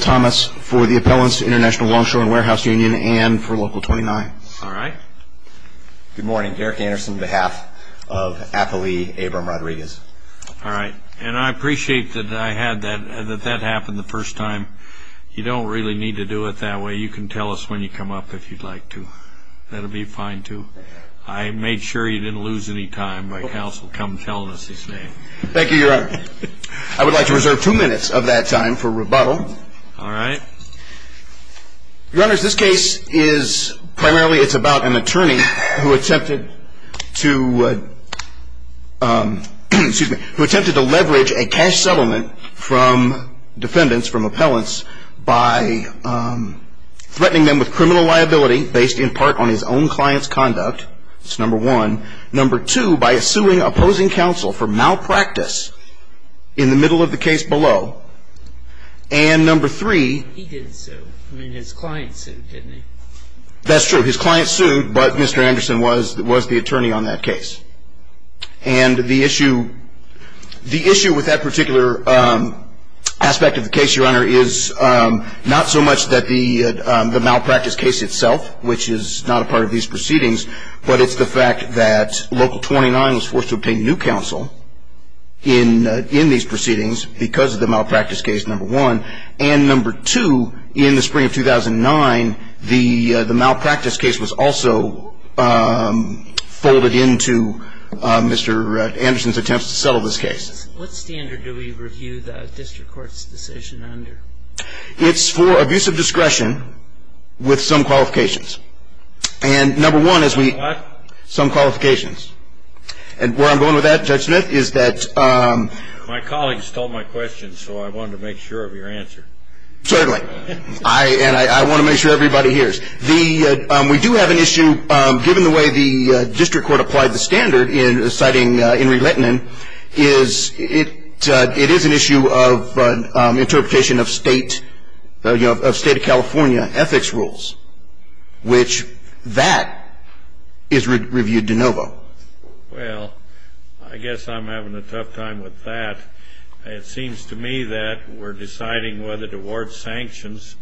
Thomas, for the Appellants, International Longshore and Warehouse Union, and for Local 29. All right. Good morning. Eric Anderson, on behalf of Athelie Abram Rodriguez. All right. And I appreciate that I had that, that that happened the first time. You don't really need to do it that way. You can tell us when you come up if you'd like to. That'll be fine, too. I made sure you didn't lose any time by counsel come telling us his name. Thank you, Your Honor. I would like to reserve two minutes of that time for rebuttal. All right. Your Honor, this case is primarily, it's about an attorney who attempted to, excuse me, who attempted to leverage a cash settlement from defendants, from appellants, by threatening them with criminal liability based in part on his own client's conduct, it's number one. Number two, by suing opposing counsel for malpractice in the middle of the case below. And number three. He didn't sue. I mean, his client sued, didn't he? That's true. His client sued, but Mr. Anderson was, was the attorney on that case. And the issue, the issue with that particular aspect of the case, Your Honor, is not so much that the, the malpractice case itself, which is not a part of these proceedings, but it's the fact that Local 29 was forced to obtain new counsel in, in these proceedings because of the malpractice case, number one. And number two, in the spring of 2009, the, the malpractice case was also folded into Mr. Anderson's attempts to settle this case. What standard do we review the district court's decision under? It's for abuse of discretion with some qualifications. And number one is we, some qualifications. And where I'm going with that, Judge Smith, is that, um. My colleagues stole my question, so I wanted to make sure of your answer. Certainly. I, and I, I want to make sure everybody hears. The, um, we do have an issue, um, given the way the, uh, district court applied the standard in citing, uh, Henry Lettinen, is it, uh, it is an issue of, uh, um, interpretation of state, uh, you know, of state of California ethics rules, which that is reviewed de novo. Well, I guess I'm having a tough time with that. It seems to me that we're deciding whether to award sanctions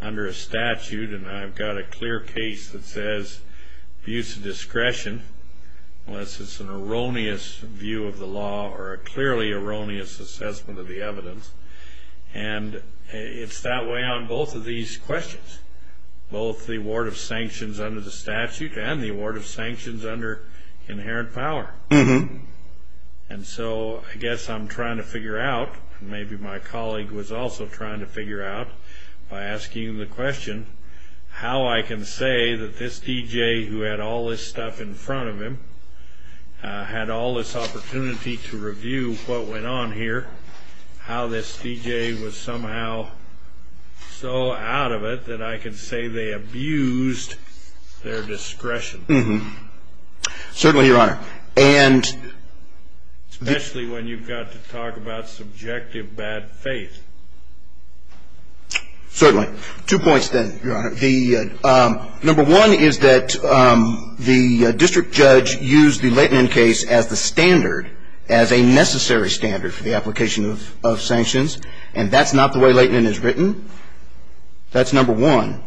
under a statute, and I've got a clear case that says abuse of discretion, unless it's an erroneous view of the law or a clearly erroneous assessment of the evidence. And it's that way on both of these questions, both the award of sanctions under the statute and the award of sanctions under inherent power. And so I guess I'm trying to figure out, and maybe my colleague was also trying to figure out by asking the question, how I can say that this DJ who had all this stuff in front of him, uh, had all this opportunity to review what went on here, how this DJ was somehow so out of it that I can say they abused their discretion. Mm-hmm. Certainly, Your Honor. And... Especially when you've got to talk about subjective bad faith. Certainly. Two points then, Your Honor. The, um, number one is that, um, the district judge used the Leighton case as the standard, as a necessary standard for the application of sanctions. And that's not the way Leighton is written. That's number one.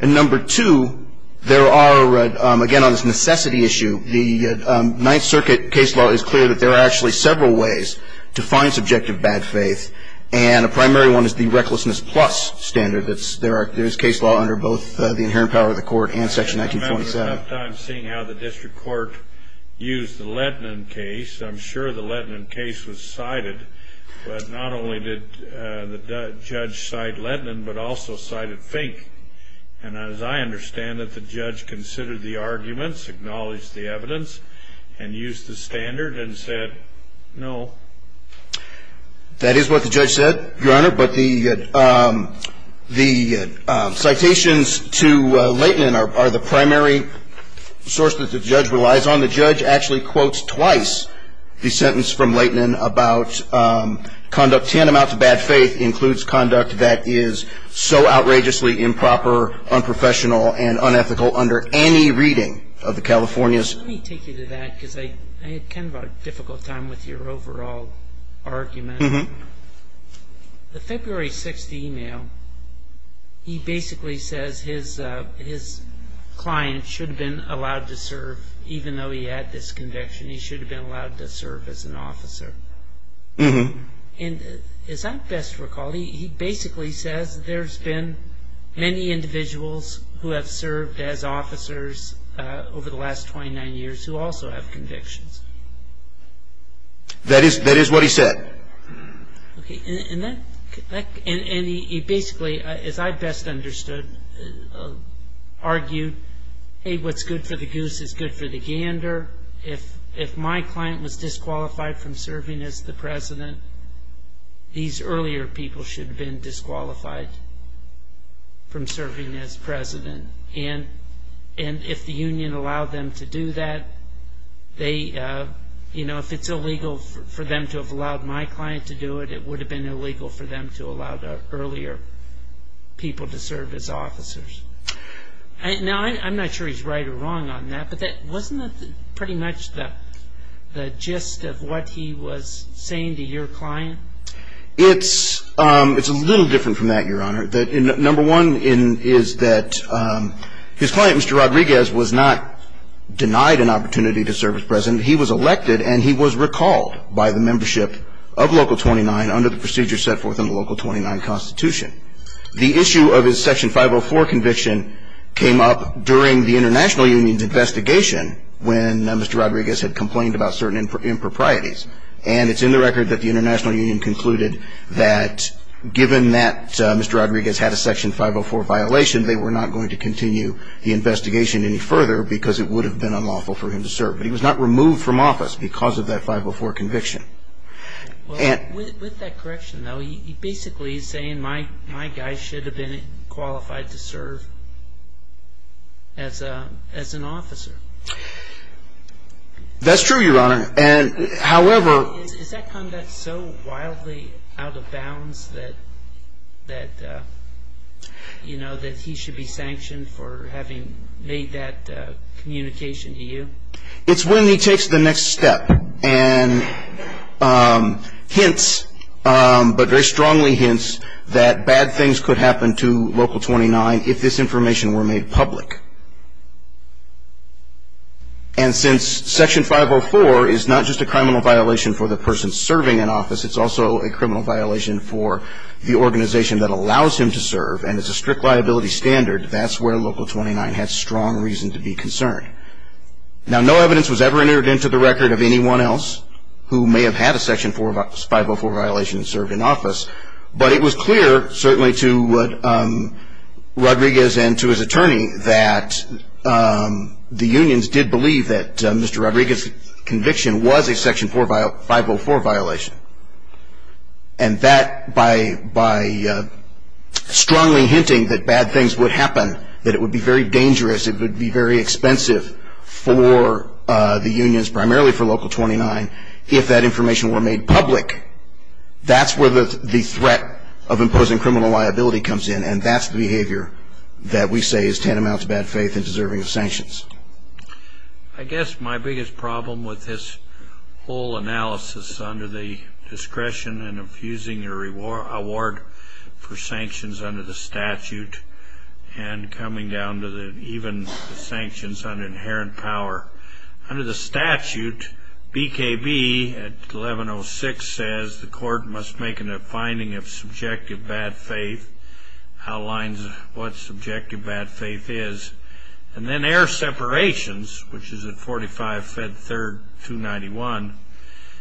And number two, there are, again, on this necessity issue, the Ninth Circuit case law is clear that there are actually several ways to find subjective bad faith, and a primary one is the recklessness plus standard that's, there are, there's case law under both, uh, the inherent power of the court and section 1927. I remember at that time seeing how the district court used the Leighton case. I'm sure the Leighton case was cited, but not only did, uh, the judge cite Leighton, but also cited Fink. And as I understand it, the judge considered the arguments, acknowledged the evidence, and used the standard and said, no. That is what the judge said, Your Honor, but the, um, the, um, citations to, uh, Leighton are, are the primary source that the judge relies on. The judge actually quotes twice the sentence from Leighton about, um, conduct tantamount to bad faith includes conduct that is so outrageously improper, unprofessional, and unethical under any reading of the California's. Let me take you to that because I, I had kind of a difficult time with your overall argument. The February 6th email, he basically says his, uh, his client should have been allowed to serve, even though he had this conviction, he should have been allowed to serve as an officer. And as I best recall, he, he basically says there's been many individuals who have served as officers, uh, over the last 29 years who also have convictions. That is, that is what he said. Okay. And that, that, and, and he, he basically, as I best understood, uh, argued, hey, what's good for the goose is good for the gander. If, if my client was disqualified from serving as the president, these earlier people should have been disqualified from serving as president. And, and if the union allowed them to do that, they, uh, you know, if it's illegal for them to have allowed my client to do it, it would have been illegal for them to allow the earlier people to serve as officers. Now, I'm not sure he's right or wrong on that, but that wasn't pretty much the, the gist of what he was saying to your client. It's, um, it's a little different from that, Your Honor, that number one in, is that, um, his client, Mr. Rodriguez, was not denied an opportunity to serve as president. He was elected and he was recalled by the membership of Local 29 under the procedure set forth in the Local 29 Constitution. The issue of his Section 504 conviction came up during the International Union's investigation when Mr. Rodriguez had complained about certain improprieties. And it's in the record that the International Union concluded that given that Mr. Rodriguez had a Section 504 violation, they were not going to continue the investigation any further because it would have been unlawful for him to serve. But he was not removed from office because of that 504 conviction. And with that correction though, he basically is saying my, my guy should have been qualified to serve as a, as an officer. That's true, Your Honor. And however... Is that conduct so wildly out of bounds that, that, uh, you know, that he should be sanctioned for having made that, uh, communication to you? It's when he takes the next step and, um, hints, um, but very strongly hints that bad things could happen to Local 29 if this information were made public. And since Section 504 is not just a criminal violation for the person serving in office, it's also a criminal violation for the organization that allows him to serve and is a strict liability standard, that's where Local 29 had strong reason to be concerned. Now, no evidence was ever entered into the record of anyone else who may have had a Section 504 violation and served in office, but it was clear, certainly to, um, Rodriguez and to his attorney that, um, the unions did believe that, um, Mr. Rodriguez conviction was a Section 504 violation. And that by, by, uh, strongly hinting that bad things would happen, that it would be very dangerous, it would be very expensive for, uh, the unions, primarily for Local 29, if that information were made public, that's where the, the threat of imposing criminal liability comes in. And that's the behavior that we say is tantamount to bad faith and deserving of sanctions. I guess my biggest problem with this whole analysis under the discretion and infusing your reward, award for sanctions under the statute and coming down to the, even the sanctions on inherent power under the statute, BKB at 1106 says the court must make a finding of subjective bad faith, outlines what subjective bad faith is, and then air separations, which is at 45 Fed Third 291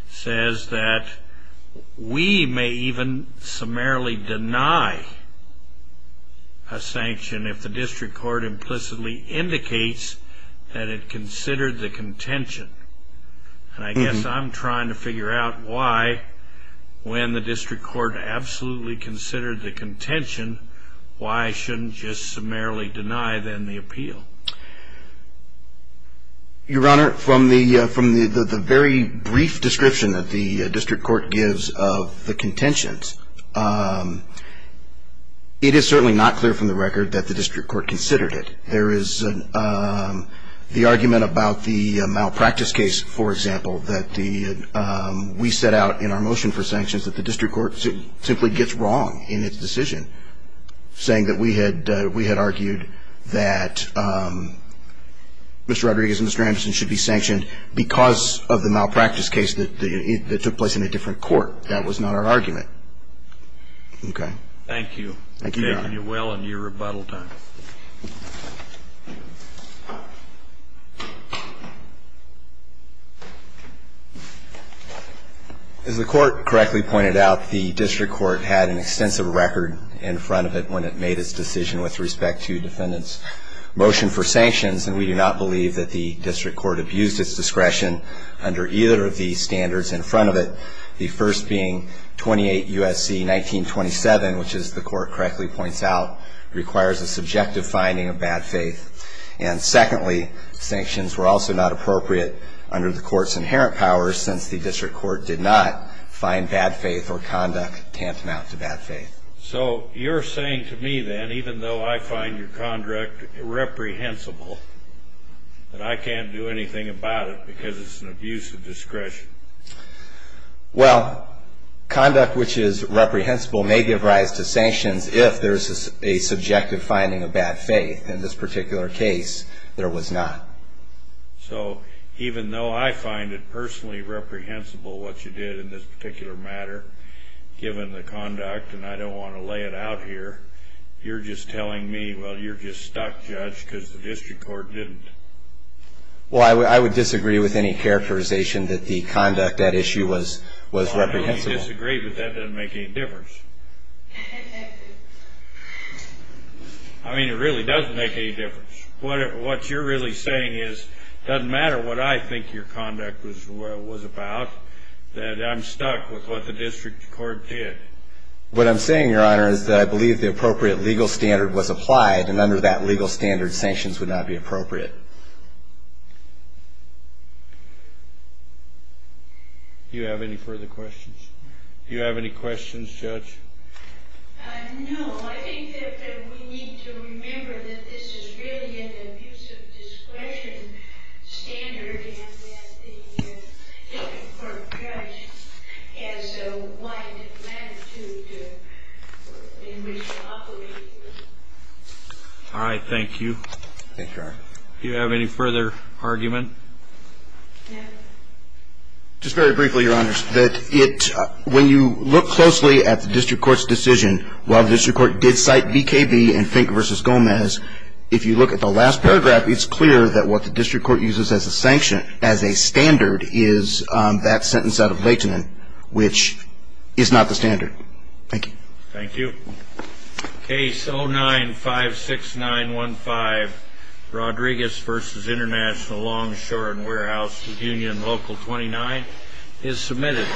says that we may even summarily deny a sanction if the district court implicitly indicates that it considered the contention. And I guess I'm trying to figure out why, when the district court absolutely considered the contention, why shouldn't just summarily deny then the appeal? Your Honor, from the, uh, from the, the, the very brief description that the district court gives of the contentions, um, it is certainly not clear from the record that the district court considered it. There is an, um, the argument about the malpractice case, for example, that the, um, we set out in our motion for sanctions that the district court simply gets wrong in its decision saying that we had, uh, we had argued that, um, Mr. Rodriguez and Mr. Anderson should be sanctioned because of the malpractice case that, that took place in a different court. That was not our argument. Okay. Thank you. Thank you, Your Honor. Thank you. You're well on your rebuttal time. Thank you. As the court correctly pointed out, the district court had an extensive record in front of it when it made its decision with respect to defendants motion for sanctions. And we do not believe that the district court abused its discretion under either of the standards in front of it. The first being 28 USC 1927, which is the court correctly points out, requires a subjective finding of bad faith. And secondly, sanctions were also not appropriate under the court's inherent powers since the district court did not find bad faith or conduct tantamount to bad faith. So you're saying to me then, even though I find your contract reprehensible, that I can't do anything about it because it's an abuse of discretion. Well, conduct which is reprehensible may give rise to sanctions if there's a subjective finding of bad faith. In this particular case, there was not. So even though I find it personally reprehensible what you did in this particular matter, given the conduct, and I don't want to lay it out here, you're just telling me, well, you're just stuck judge because the district court didn't. Well, I would disagree with any characterization that the conduct at issue was, was reprehensible. I really disagree, but that doesn't make any difference. I mean, it really doesn't make any difference. What, what you're really saying is doesn't matter what I think your conduct was, was about that. I'm stuck with what the district court did. What I'm saying, your honor, is that I believe the appropriate legal standard was applied and under that legal standard, sanctions would not be appropriate. Do you have any further questions? Do you have any questions, judge? Uh, no. I think that we need to remember that this is really an abuse of discretion standard and that the district court judge has a wide latitude in which to operate. All right. Thank you. Do you have any further argument? Just very briefly, your honors, that it, when you look closely at the district court's decision, while the district court did cite BKB and Fink versus Gomez, if you look at the last paragraph, it's clear that what the district court uses as a sanction, as a standard is, um, that sentence out of Leighton, which is not the standard. Thank you. Thank you. Case 0956915, Rodriguez versus International Longshore and Warehouse with Union Local 29 is submitted.